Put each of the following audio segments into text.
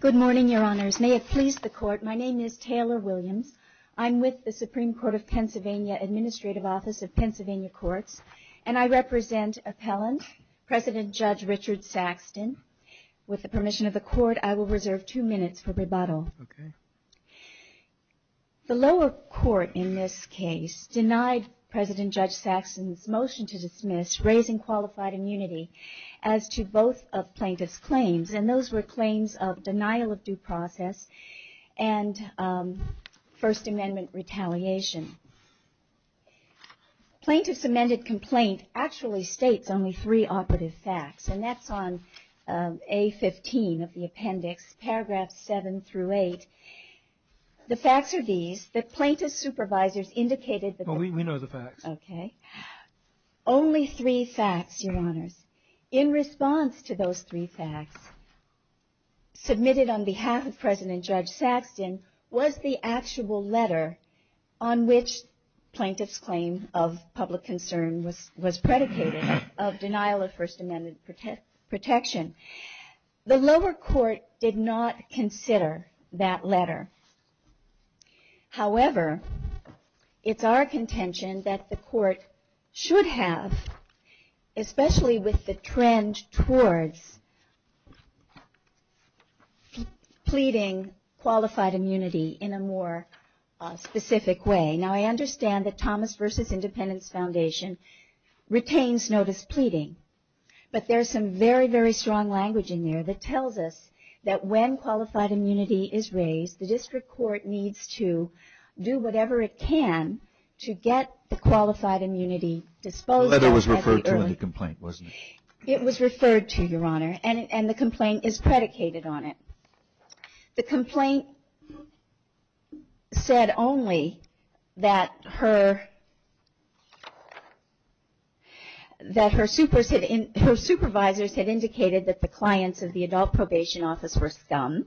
Good morning, Your Honors. May it please the Court, my name is Taylor Williams. I'm with the Supreme Court of Pennsylvania Administrative Office of Pennsylvania Courts, and I represent Appellant President Judge Richard Saxton. With the permission of the Court, I will reserve two minutes for rebuttal. The lower court in this case denied President Judge Saxton's motion to dismiss raising qualified immunity as to both of plaintiff's claims, and those were claims of denial of due process and First Amendment retaliation. Plaintiff's amended complaint actually states only three operative facts, and that's on A15 of the appendix, paragraphs 7 through 8. The facts are these, that plaintiff's supervisors indicated that... which plaintiff's claim of public concern was predicated of denial of First Amendment protection. The lower court did not consider that letter. However, it's our contention that the court should have, especially with the trend towards pleading qualified immunity in a more specific way. Now, I understand that Thomas v. Independence Foundation retains notice pleading, but there's some very, very strong language in there that tells us that when qualified immunity is raised, the district court needs to do whatever it can to get the qualified immunity disposed of... It was referred to, Your Honor, and the complaint is predicated on it. The complaint said only that her supervisors had indicated that the clients of the adult probation office were scum,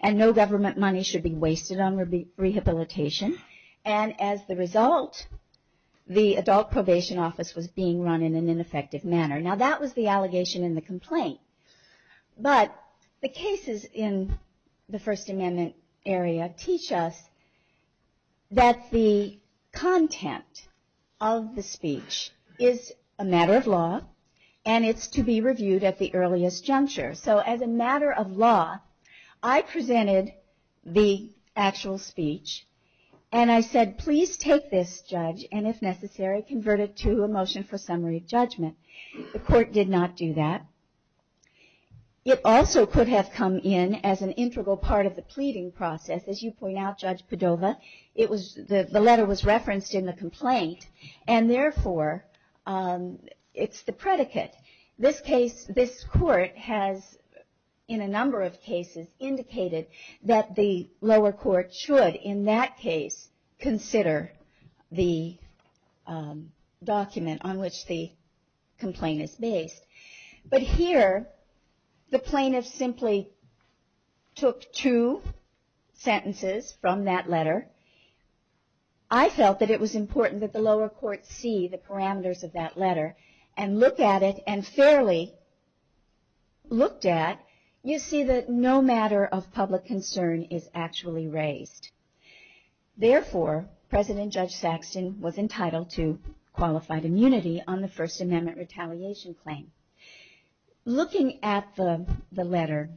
and no government money should be wasted on rehabilitation. And as the result, the adult probation office was being run in an ineffective manner. Now, that was the allegation in the complaint, but the cases in the First Amendment area teach us that the content of the speech is a matter of law, and it's to be reviewed at the earliest juncture. So, as a matter of law, I presented the actual speech, and I said, please take this, Judge, and if necessary, convert it to a motion for summary judgment. The court did not do that. It also could have come in as an integral part of the pleading process. As you point out, Judge Padova, the letter was referenced in the complaint, and therefore, it's the predicate. This case, this court has, in a number of cases, indicated that the lower court should, in that case, consider the document on which the complaint is based. But here, the plaintiff simply took two sentences from that letter. I felt that it was important that the lower court see the parameters of that letter and look at it, and fairly looked at, you see that no matter of public concern is actually raised. Therefore, President Judge Saxton was entitled to qualified immunity on the First Amendment retaliation claim. Looking at the letter,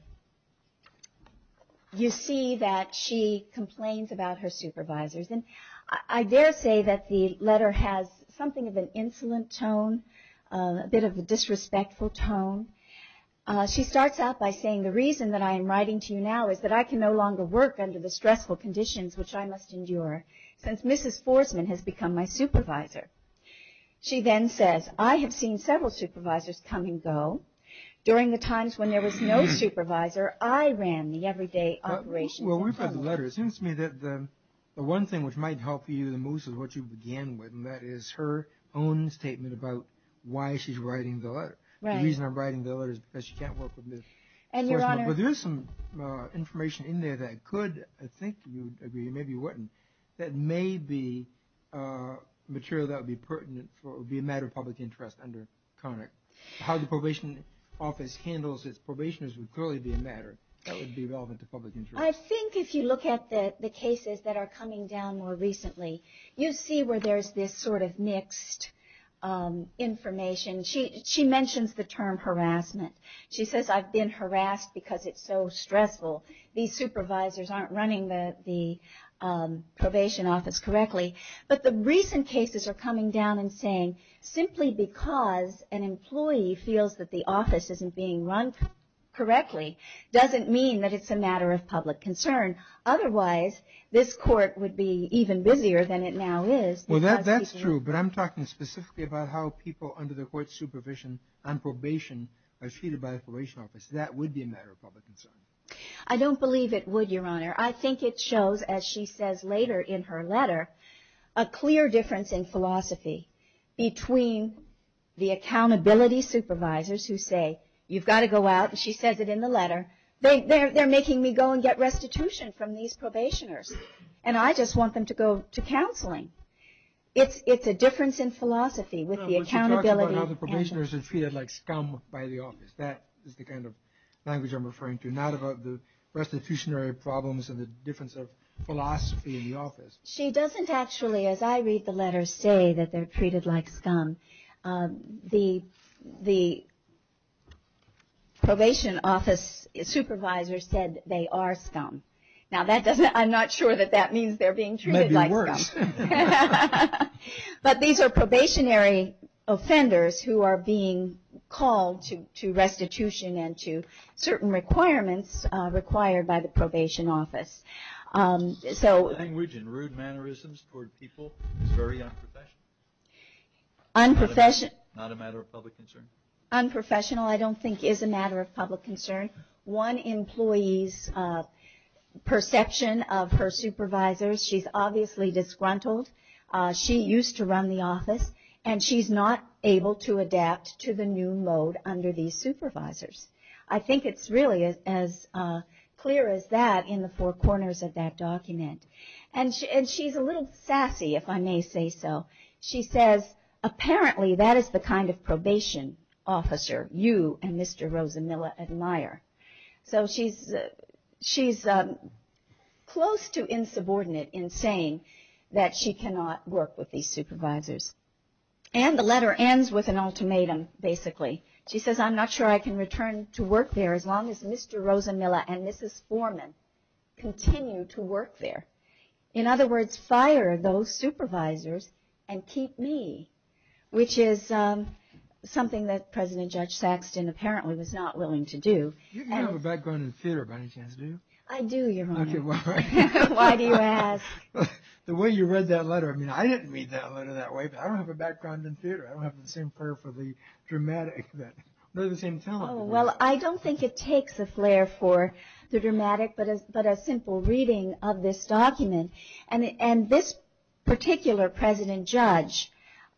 you see that she complains about her supervisors, and I dare say that the letter has something of an insolent tone, a bit of a disrespectful tone. She starts out by saying, the reason that I am writing to you now is that I can no longer work under the stressful conditions which I must endure since Mrs. Forsman has become my supervisor. She then says, I have seen several supervisors come and go. During the times when there was no supervisor, I ran the everyday operation. Well, when we read the letter, it seems to me that the one thing which might help you the most is what you began with, and that is her own statement about why she's writing the letter. The reason I'm writing the letter is because she can't work under Mrs. Forsman. But there is some information in there that could, I think you would agree, maybe you wouldn't, that may be material that would be pertinent, would be a matter of public interest under Connick. How the probation office handles its probationers would clearly be a matter that would be relevant to public interest. I think if you look at the cases that are coming down more recently, you see where there's this sort of mixed information. She mentions the term harassment. She says, I've been harassed because it's so stressful. These supervisors aren't running the probation office correctly. But the recent cases are coming down and saying simply because an employee feels that the office isn't being run correctly doesn't mean that it's a matter of public concern. Otherwise, this court would be even busier than it now is. Well, that's true, but I'm talking specifically about how people under the court's supervision on probation are treated by the probation office. That would be a matter of public concern. I don't believe it would, Your Honor. I think it shows, as she says later in her letter, a clear difference in philosophy between the accountability supervisors who say, you've got to go out, and she says it in the letter, they're making me go and get restitution from these probationers. And I just want them to go to counseling. It's a difference in philosophy with the accountability. She talks about how the probationers are treated like scum by the office. That is the kind of language I'm referring to, not about the restitutionary problems and the difference of philosophy in the office. She doesn't actually, as I read the letter, say that they're treated like scum. The probation office supervisor said they are scum. Now, I'm not sure that that means they're being treated like scum. Maybe worse. But these are probationary offenders who are being called to restitution and to certain requirements required by the probation office. So. Language and rude mannerisms toward people is very unprofessional. Unprofessional. Not a matter of public concern. Unprofessional, I don't think, is a matter of public concern. One employee's perception of her supervisors, she's obviously disgruntled. She used to run the office. And she's not able to adapt to the new mode under these supervisors. I think it's really as clear as that in the four corners of that document. And she's a little sassy, if I may say so. She says, apparently that is the kind of probation officer you and Mr. Rosamilla admire. So, she's close to insubordinate in saying that she cannot work with these supervisors. And the letter ends with an ultimatum, basically. She says, I'm not sure I can return to work there as long as Mr. Rosamilla and Mrs. Foreman continue to work there. In other words, fire those supervisors and keep me. Which is something that President Judge Saxton apparently was not willing to do. You don't have a background in theater by any chance, do you? I do, Your Honor. Why do you ask? The way you read that letter. I mean, I didn't read that letter that way. But I don't have a background in theater. I don't have the same flair for the dramatic. I don't have the same talent. And this particular President Judge,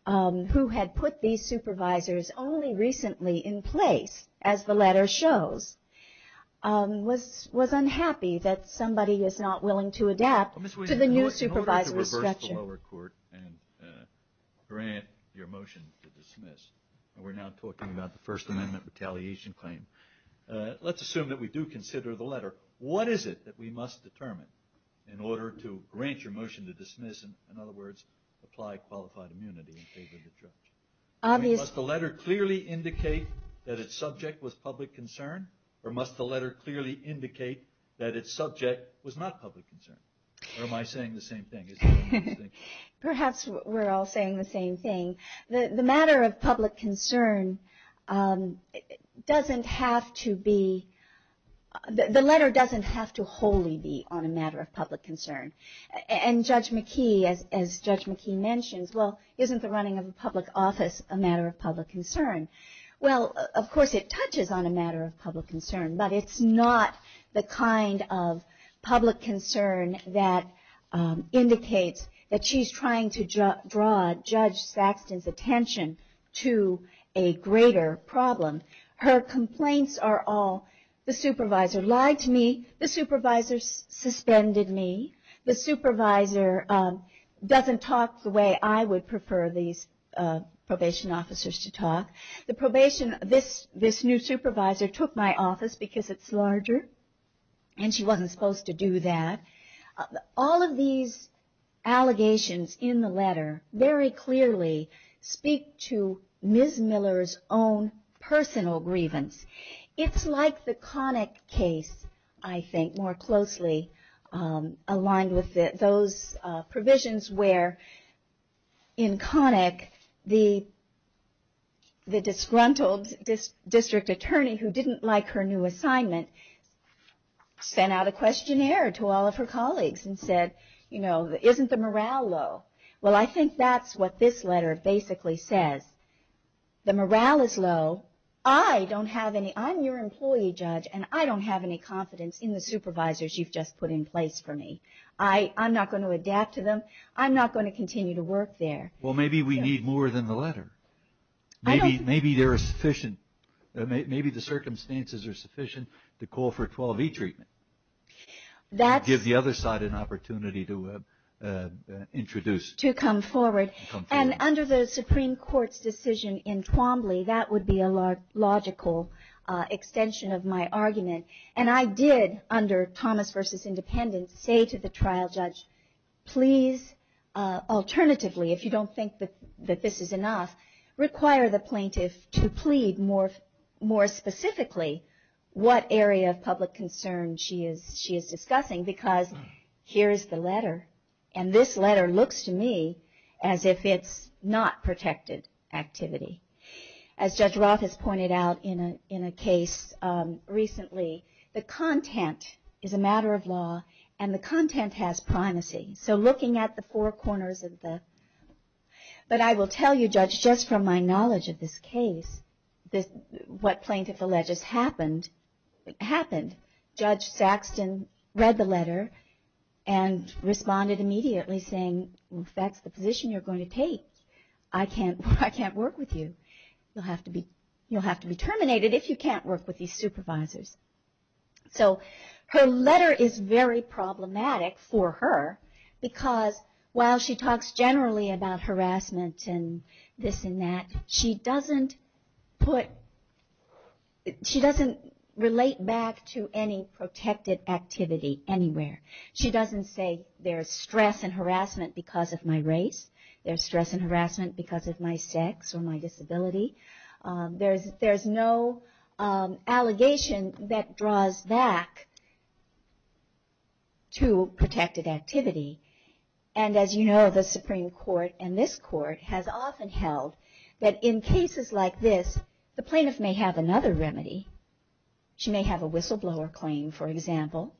who had put these supervisors only recently in place, as the letter shows, was unhappy that somebody was not willing to adapt to the new supervisory structure. In order to reverse the lower court and grant your motion to dismiss, and we're now talking about the First Amendment retaliation claim, what is it that we must determine in order to grant your motion to dismiss? In other words, apply qualified immunity in favor of the judge. Must the letter clearly indicate that its subject was public concern? Or must the letter clearly indicate that its subject was not public concern? Or am I saying the same thing? Perhaps we're all saying the same thing. The matter of public concern doesn't have to be, the letter doesn't have to wholly be on a matter of public concern. And Judge McKee, as Judge McKee mentions, well, isn't the running of a public office a matter of public concern? Well, of course it touches on a matter of public concern. But it's not the kind of public concern that indicates that she's trying to draw Judge Saxton's attention to a greater problem. Her complaints are all, the supervisor lied to me, the supervisor suspended me, the supervisor doesn't talk the way I would prefer these probation officers to talk. The probation, this new supervisor took my office because it's larger and she wasn't supposed to do that. All of these allegations in the letter very clearly speak to Ms. Miller's own personal grievance. It's like the Connick case, I think, more closely aligned with those provisions where in Connick, the disgruntled district attorney who didn't like her new assignment sent out a questionnaire to all of her colleagues and said, you know, isn't the morale low? Well, I think that's what this letter basically says. The morale is low. I don't have any, I'm your employee, Judge, and I don't have any confidence in the supervisors you've just put in place for me. I'm not going to adapt to them. I'm not going to continue to work there. Well, maybe we need more than the letter. Maybe there are sufficient, maybe the circumstances are sufficient to call for 12E treatment. That's. Give the other side an opportunity to introduce. To come forward. And under the Supreme Court's decision in Twombly, that would be a logical extension of my argument. And I did, under Thomas v. Independence, say to the trial judge, please, alternatively, if you don't think that this is enough, require the plaintiff to plead more specifically what area of public concern she is discussing. Because here is the letter. And this letter looks to me as if it's not protected activity. As Judge Roth has pointed out in a case recently, the content is a matter of law, and the content has primacy. So looking at the four corners of the. But I will tell you, Judge, just from my knowledge of this case, what plaintiff alleged happened. Judge Saxton read the letter and responded immediately saying, well, if that's the position you're going to take, I can't work with you. You'll have to be terminated if you can't work with these supervisors. So her letter is very problematic for her, because while she talks generally about harassment and this and that, she doesn't relate back to any protected activity anywhere. She doesn't say there's stress and harassment because of my race. There's stress and harassment because of my sex or my disability. There's no allegation that draws back to protected activity. And as you know, the Supreme Court and this court has often held that in cases like this, the plaintiff may have another remedy. She may have a whistleblower claim, for example,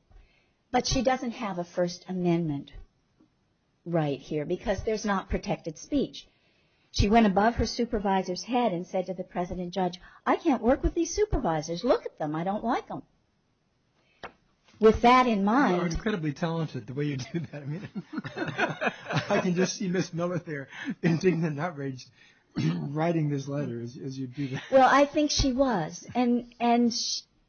but she doesn't have a First Amendment right here because there's not protected speech. She went above her supervisor's head and said to the President Judge, I can't work with these supervisors. Look at them. I don't like them. With that in mind... You're incredibly talented, the way you do that. I can just see Ms. Miller there, in tears and outrage, writing this letter as you do that. Well, I think she was, and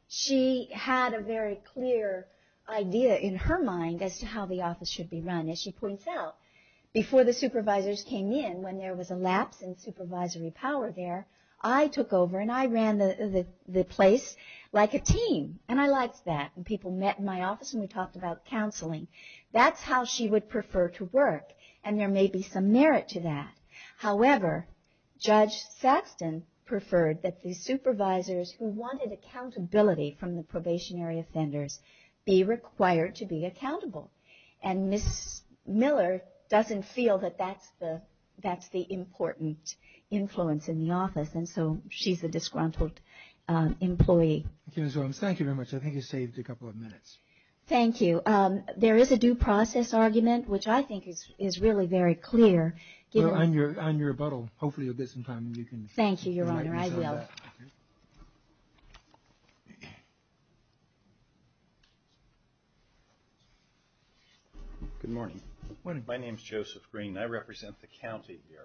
she had a very clear idea in her mind as to how the office should be run. As she points out, before the supervisors came in, when there was a lapse in supervisory power there, I took over and I ran the place like a team, and I liked that. And people met in my office and we talked about counseling. That's how she would prefer to work, and there may be some merit to that. However, Judge Saxton preferred that the supervisors who wanted accountability from the probationary offenders be required to be accountable. And Ms. Miller doesn't feel that that's the important influence in the office, and so she's a disgruntled employee. Thank you, Ms. Williams. Thank you very much. I think you saved a couple of minutes. Thank you. There is a due process argument, which I think is really very clear. Well, on your rebuttal, hopefully you'll get some time. Thank you, Your Honor. I will. Good morning. My name is Joseph Green, and I represent the county here.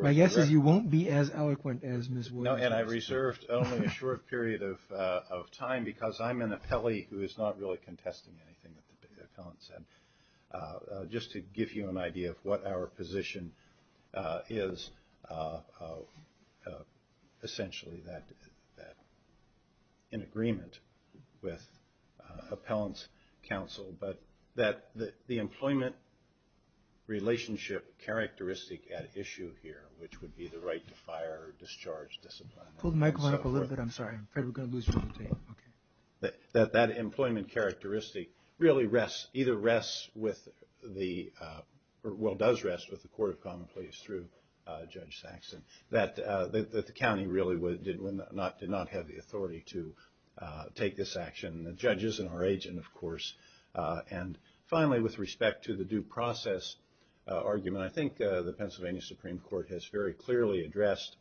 My guess is you won't be as eloquent as Ms. Williams. No, and I reserved only a short period of time because I'm an appellee who is not really contesting anything that the appellant said. Just to give you an idea of what our position is, essentially that in agreement with appellant's counsel, but that the employment relationship characteristic at issue here, which would be the right to fire or discharge discipline. Pull the microphone up a little bit. I'm sorry. I'm afraid we're going to lose you on the tape. That that employment characteristic really rests, either rests with the, well does rest with the Court of Common Pleas through Judge Saxon, that the county really did not have the authority to take this action. The judge isn't our agent, of course. And finally, with respect to the due process argument, I think the Pennsylvania Supreme Court has very clearly addressed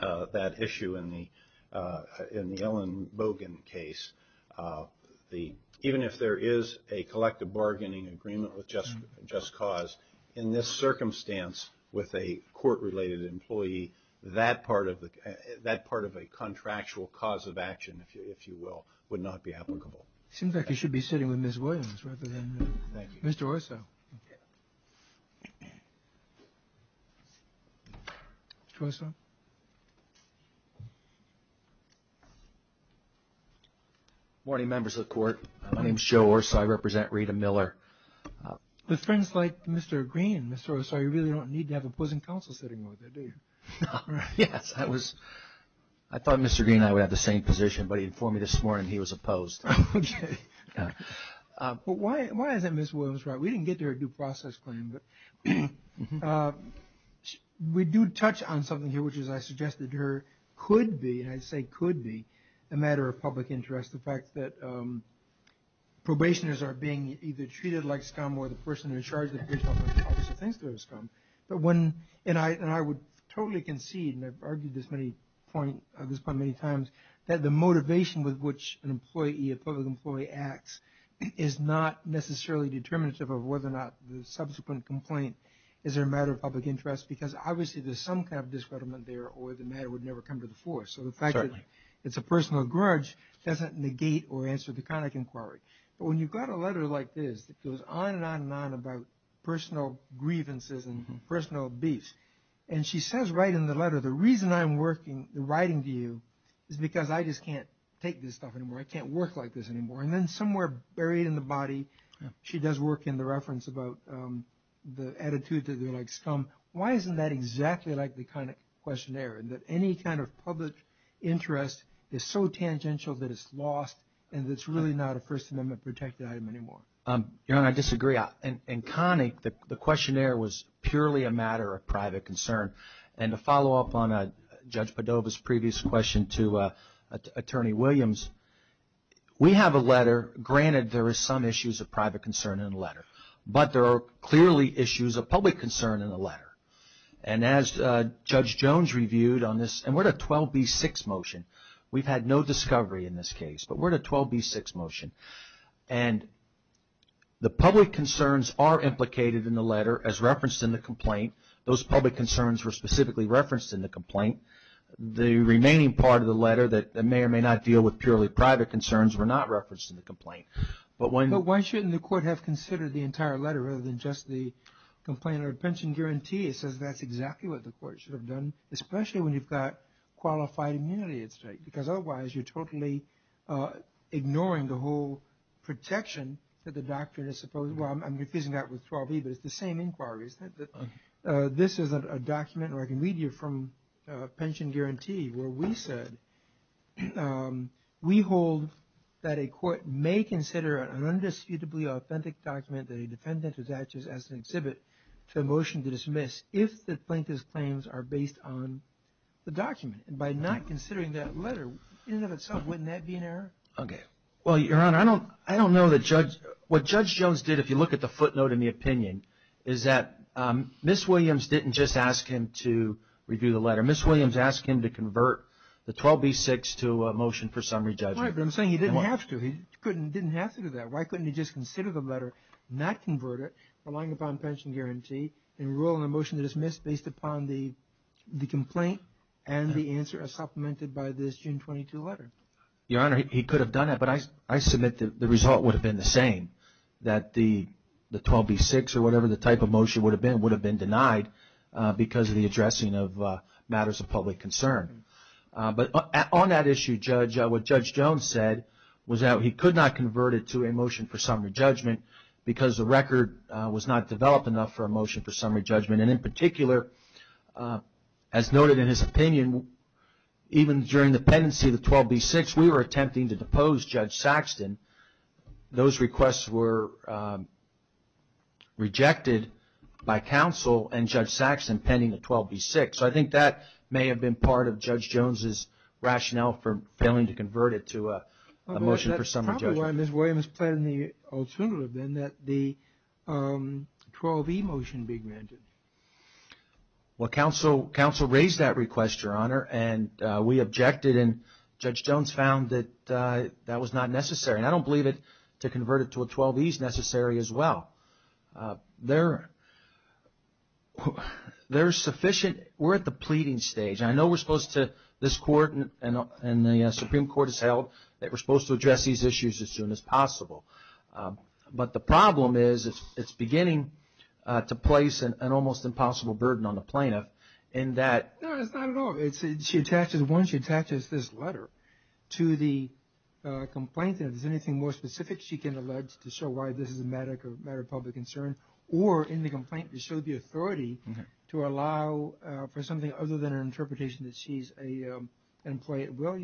that issue in the Ellen Bogan case. Even if there is a collective bargaining agreement with Just Cause, in this circumstance with a court-related employee, that part of a contractual cause of action, if you will, would not be applicable. Seems like you should be sitting with Ms. Williams rather than Mr. Orso. Mr. Orso. Good morning, members of the Court. My name is Joe Orso. I represent Rita Miller. With friends like Mr. Green, Mr. Orso, you really don't need to have opposing counsel sitting over there, do you? Yes, I thought Mr. Green and I would have the same position, but he informed me this morning he was opposed. Okay. But why isn't Ms. Williams right? We didn't get to her due process claim, but we do touch on something here, which is I suggested to her could be, and I say could be, a matter of public interest, the fact that probationers are being either treated like scum or the person in charge of the probation office thinks they're scum. And I would totally concede, and I've argued this point many times, that the motivation with which an employee, a public employee acts, is not necessarily determinative of whether or not the subsequent complaint is a matter of public interest, because obviously there's some kind of discreditment there or the matter would never come to the fore. So the fact that it's a personal grudge doesn't negate or answer the kind of inquiry. But when you've got a letter like this that goes on and on and on about personal grievances and personal beefs, and she says right in the letter, the reason I'm writing to you is because I just can't take this stuff anymore. I can't work like this anymore. And then somewhere buried in the body she does work in the reference about the attitude that they're like scum. Why isn't that exactly like the Connick questionnaire, that any kind of public interest is so tangential that it's lost and it's really not a First Amendment protected item anymore? Your Honor, I disagree. In Connick, the questionnaire was purely a matter of private concern. And to follow up on Judge Padova's previous question to Attorney Williams, we have a letter, granted there are some issues of private concern in the letter, but there are clearly issues of public concern in the letter. And as Judge Jones reviewed on this, and we're at a 12B6 motion. We've had no discovery in this case, but we're at a 12B6 motion. And the public concerns are implicated in the letter as referenced in the complaint. Those public concerns were specifically referenced in the complaint. The remaining part of the letter that may or may not deal with purely private concerns were not referenced in the complaint. But why shouldn't the court have considered the entire letter rather than just the complaint or pension guarantee? It says that's exactly what the court should have done, especially when you've got qualified immunity at stake. Because otherwise, you're totally ignoring the whole protection that the doctrine is supposed to. Well, I'm refusing that with 12B, but it's the same inquiry. This is a document, or I can read you from a pension guarantee, where we said, we hold that a court may consider an undisputably authentic document that a defendant attaches as an exhibit to a motion to dismiss if the plaintiff's claims are based on the document. And by not considering that letter, in and of itself, wouldn't that be an error? Okay. Well, Your Honor, I don't know that Judge – what Judge Jones did, if you look at the footnote in the opinion, is that Ms. Williams didn't just ask him to review the letter. Ms. Williams asked him to convert the 12B6 to a motion for summary judgment. Right, but I'm saying he didn't have to. He didn't have to do that. Why couldn't he just consider the letter, not convert it, relying upon pension guarantee, enroll in a motion to dismiss based upon the complaint and the answer as supplemented by this June 22 letter? Your Honor, he could have done that, but I submit that the result would have been the same, that the 12B6 or whatever the type of motion would have been would have been denied because of the addressing of matters of public concern. But on that issue, Judge, what Judge Jones said was that he could not convert it to a motion for summary judgment because the record was not developed enough for a motion for summary judgment. And in particular, as noted in his opinion, even during the pendency of the 12B6, we were attempting to depose Judge Saxton. Those requests were rejected by counsel and Judge Saxton pending the 12B6. So I think that may have been part of Judge Jones' rationale for failing to convert it to a motion for summary judgment. That's probably why Ms. Williams planned the alternative, then, that the 12E motion be granted. Well, counsel raised that request, Your Honor, and we objected. And Judge Jones found that that was not necessary. And I don't believe to convert it to a 12E is necessary as well. There's sufficient – we're at the pleading stage. I know we're supposed to – this Court and the Supreme Court has held that we're supposed to address these issues as soon as possible. But the problem is it's beginning to place an almost impossible burden on the plaintiff in that – No, it's not at all. She attaches – once she attaches this letter to the complaint, and if there's anything more specific she can allege to show why this is a matter of public concern, or in the complaint to show the authority to allow for something other than an interpretation that she's an employee at will,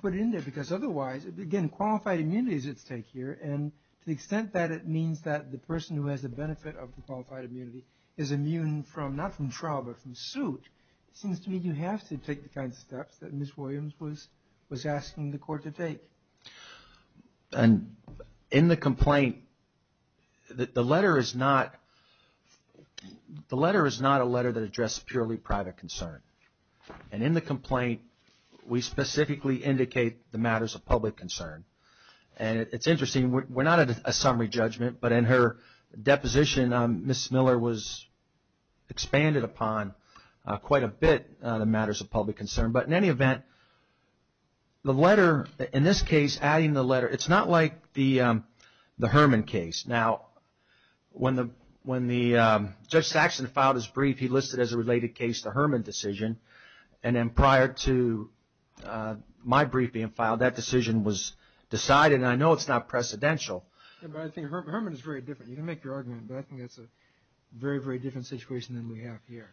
put it in there because otherwise – again, qualified immunity is at stake here. And to the extent that it means that the person who has the benefit of the qualified immunity is immune from – not from trial but from suit, it seems to me you have to take the kinds of steps that Ms. Williams was asking the Court to take. And in the complaint, the letter is not – the letter is not a letter that addresses purely private concern. And in the complaint, we specifically indicate the matters of public concern. And it's interesting, we're not at a summary judgment, but in her deposition, Ms. Miller was expanded upon quite a bit on the matters of public concern. But in any event, the letter – in this case, adding the letter – it's not like the Herman case. Now, when the – when the – Judge Saxon filed his brief, he listed as a related case the Herman decision. And then prior to my brief being filed, that decision was decided, and I know it's not precedential. Yeah, but I think Herman is very different. You can make your argument, but I think that's a very, very different situation than we have here.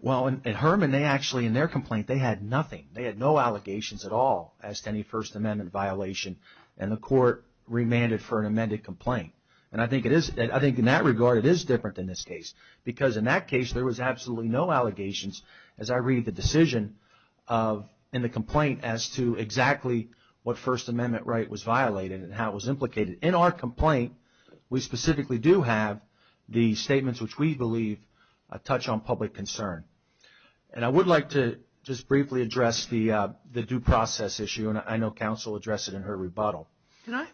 Well, in Herman, they actually – in their complaint, they had nothing. They had no allegations at all as to any First Amendment violation. And the Court remanded for an amended complaint. And I think it is – I think in that regard, it is different than this case. Because in that case, there was absolutely no allegations, as I read the decision in the complaint, as to exactly what First Amendment right was violated and how it was implicated. In our complaint, we specifically do have the statements which we believe touch on public concern. And I would like to just briefly address the due process issue, and I know counsel addressed it in her rebuttal. Can I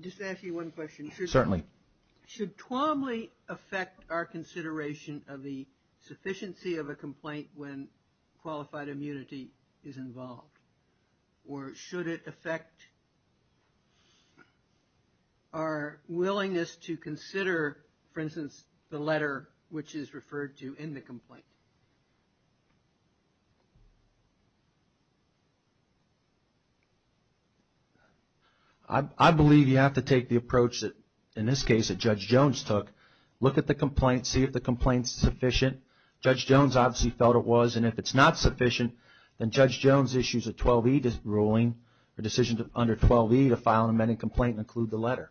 just ask you one question? Certainly. Should Twombly affect our consideration of the sufficiency of a complaint when qualified immunity is involved? Or should it affect our willingness to consider, for instance, the letter which is referred to in the complaint? I believe you have to take the approach that, in this case, that Judge Jones took. Look at the complaint. See if the complaint is sufficient. Judge Jones obviously felt it was. And if it's not sufficient, then Judge Jones issues a 12E ruling, a decision under 12E to file an amended complaint and include the letter.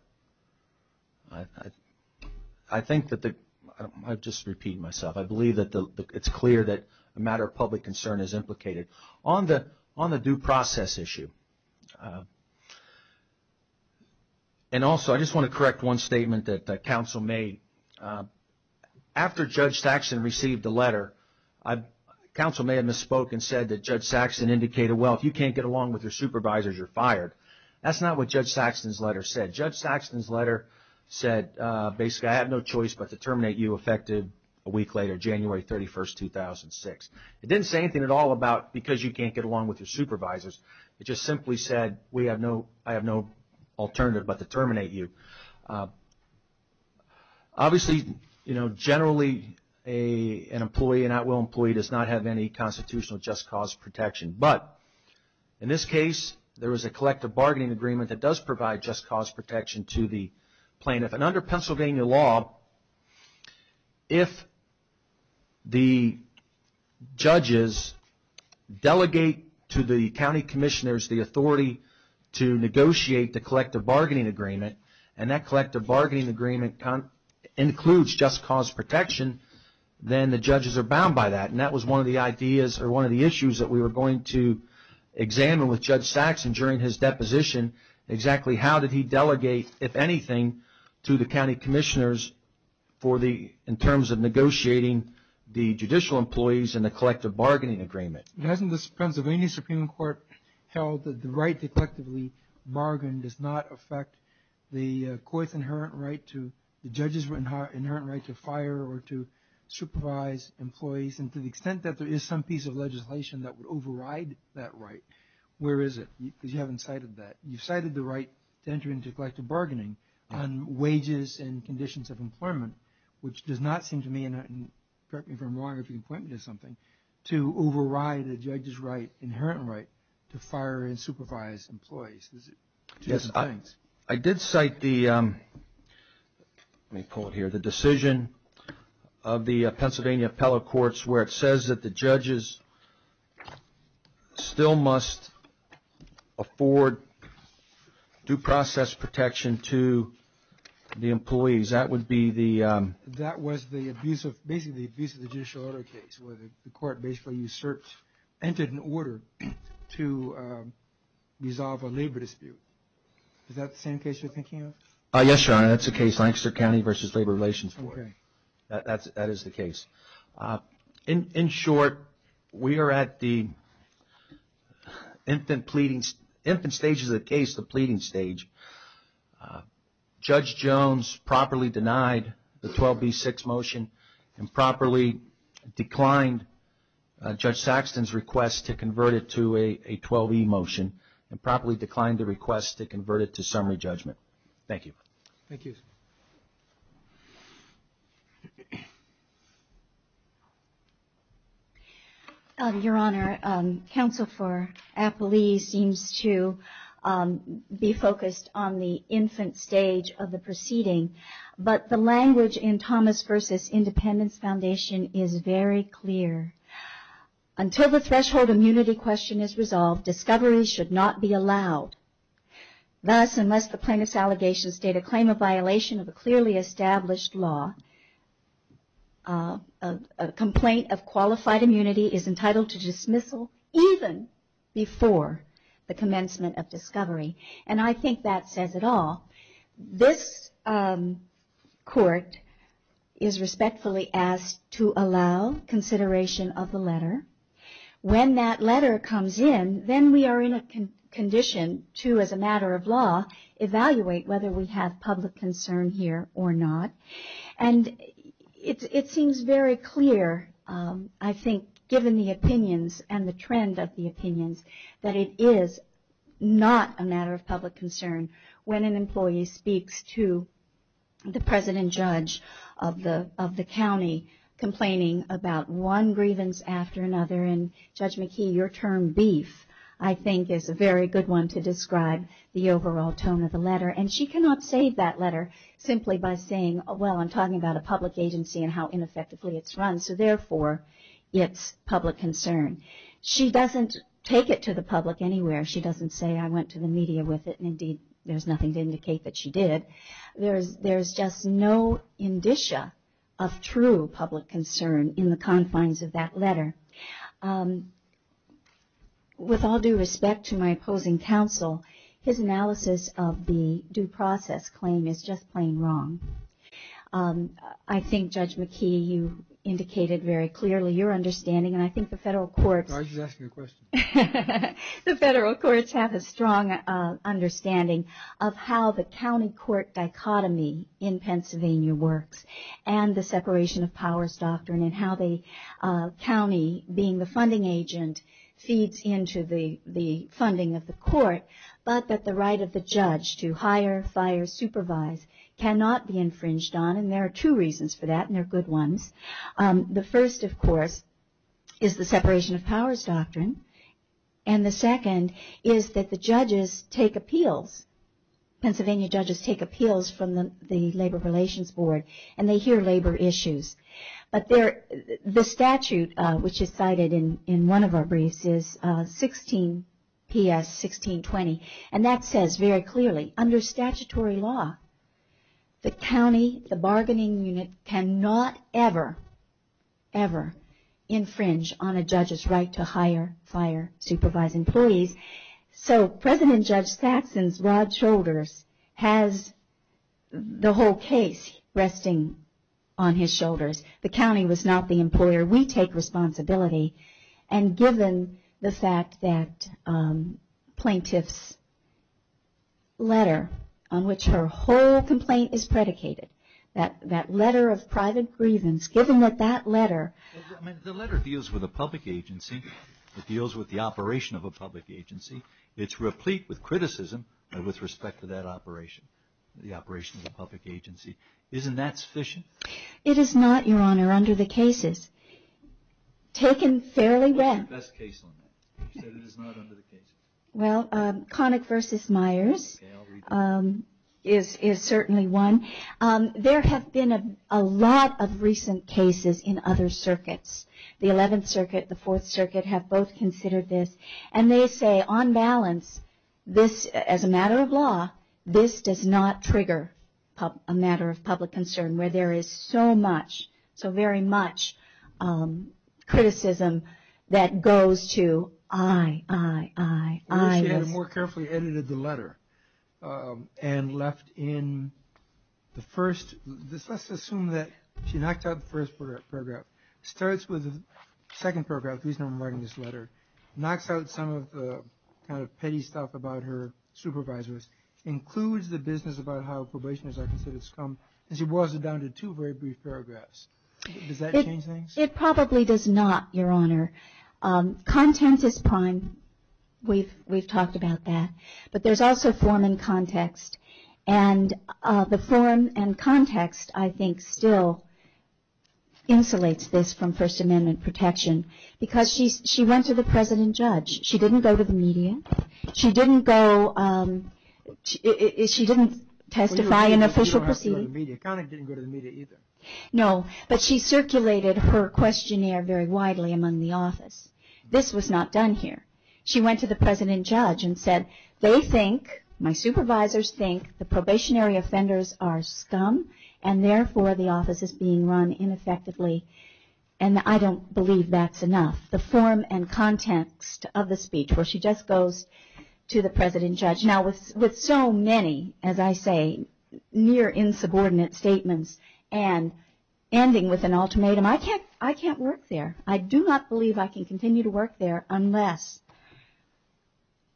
I think that the – I'll just repeat myself. I believe that it's clear that a matter of public concern is implicated on the due process issue. And also, I just want to correct one statement that counsel made. After Judge Saxton received the letter, counsel may have misspoke and said that Judge Saxton indicated, well, if you can't get along with your supervisors, you're fired. That's not what Judge Saxton's letter said. Judge Saxton's letter said, basically, I have no choice but to terminate you effective a week later, January 31, 2006. It didn't say anything at all about because you can't get along with your supervisors. It just simply said, I have no alternative but to terminate you. Obviously, generally, an employee, an at-will employee, does not have any constitutional just cause protection. But in this case, there was a collective bargaining agreement that does provide just cause protection to the plaintiff. And under Pennsylvania law, if the judges delegate to the county commissioners the authority to negotiate the collective bargaining agreement, and that collective bargaining agreement includes just cause protection, then the judges are bound by that. And that was one of the ideas or one of the issues that we were going to examine with Judge Saxton during his deposition, exactly how did he delegate, if anything, to the county commissioners in terms of negotiating the judicial employees and the collective bargaining agreement. Hasn't the Pennsylvania Supreme Court held that the right to collectively bargain does not affect the court's inherent right to, the judges' inherent right to fire or to supervise employees? And to the extent that there is some piece of legislation that would override that right, where is it? Because you haven't cited that. You've cited the right to enter into collective bargaining on wages and conditions of employment, which does not seem to me, and correct me if I'm wrong, if you can point me to something, to override a judge's right, inherent right, to fire and supervise employees. I did cite the decision of the Pennsylvania appellate courts where it says that the judges still must afford due process protection to the employees. That would be the... That was basically the abuse of the judicial order case where the court basically entered an order to resolve a labor dispute. Is that the same case you're thinking of? Yes, Your Honor, that's the case, Lancaster County v. Labor Relations Court. Okay. That is the case. In short, we are at the infant stages of the case, the pleading stage. Judge Jones properly denied the 12B6 motion and properly declined Judge Saxton's request to convert it to a 12E motion and properly declined the request to convert it to summary judgment. Thank you. Thank you. Your Honor, counsel for appellees seems to be focused on the infant stage of the proceeding, but the language in Thomas v. Independence Foundation is very clear. Until the threshold immunity question is resolved, discovery should not be allowed. Thus, unless the plaintiff's allegations state a claim of violation of a clearly established law, a complaint of qualified immunity is entitled to dismissal even before the commencement of discovery. And I think that says it all. This court is respectfully asked to allow consideration of the letter. When that letter comes in, then we are in a condition to, as a matter of law, evaluate whether we have public concern here or not. And it seems very clear, I think, given the opinions and the trend of the opinions, that it is not a matter of public concern when an employee speaks to the president judge of the county complaining about one grievance after another. And Judge McKee, your term, beef, I think is a very good one to describe the overall tone of the letter. And she cannot save that letter simply by saying, well, I'm talking about a public agency and how ineffectively it's run, so therefore it's public concern. She doesn't take it to the public anywhere. She doesn't say, I went to the media with it, and indeed there's nothing to indicate that she did. There's just no indicia of true public concern in the confines of that letter. With all due respect to my opposing counsel, his analysis of the due process claim is just plain wrong. I think, Judge McKee, you indicated very clearly your understanding. And I think the federal courts have a strong understanding of how the county court dichotomy in Pennsylvania works and the separation of powers doctrine and how the county, being the funding agent, feeds into the funding of the court, but that the right of the judge to hire, fire, supervise cannot be infringed on. And there are two reasons for that, and they're good ones. The first, of course, is the separation of powers doctrine. And the second is that the judges take appeals. Pennsylvania judges take appeals from the Labor Relations Board, and they hear labor issues. But the statute, which is cited in one of our briefs, is 16PS1620, and that says very clearly, under statutory law, the county, the bargaining unit, cannot ever, ever infringe on a judge's right to hire, fire, supervise employees. So President Judge Saxon's broad shoulders has the whole case resting on his shoulders. The county was not the employer. We take responsibility. And given the fact that plaintiff's letter, on which her whole complaint is predicated, that letter of private grievance, given that that letter. The letter deals with a public agency. It deals with the operation of a public agency. It's replete with criticism with respect to that operation, the operation of a public agency. Isn't that sufficient? It is not, Your Honor, under the cases. Taken fairly well. What's your best case on that? You said it is not under the cases. Well, Connick v. Myers is certainly one. There have been a lot of recent cases in other circuits. The 11th Circuit, the 4th Circuit have both considered this. And they say, on balance, this, as a matter of law, this does not trigger a matter of public concern, where there is so much, so very much criticism that goes to aye, aye, aye, aye. I wish she had more carefully edited the letter and left in the first. Let's assume that she knocked out the first paragraph. Starts with the second paragraph, the reason I'm writing this letter. Knocks out some of the kind of petty stuff about her supervisors. Includes the business about how probation is, I consider, scum. And she boils it down to two very brief paragraphs. Does that change things? It probably does not, Your Honor. Content is prime. We've talked about that. But there's also form and context. And the form and context, I think, still insulates this from First Amendment protection. Because she went to the president judge. She didn't go to the media. She didn't testify in official proceedings. Connick didn't go to the media either. No. But she circulated her questionnaire very widely among the office. This was not done here. She went to the president judge and said, they think, my supervisors think, the probationary offenders are scum and, therefore, the office is being run ineffectively. And I don't believe that's enough. The form and context of the speech where she just goes to the president judge. Now, with so many, as I say, near insubordinate statements and ending with an ultimatum, I can't work there. I do not believe I can continue to work there unless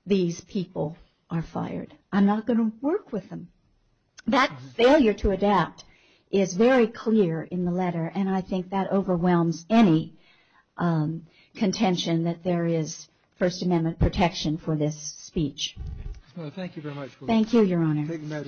these people are fired. I'm not going to work with them. That failure to adapt is very clear in the letter. And I think that overwhelms any contention that there is First Amendment protection for this speech. Thank you very much. Thank you, Your Honor.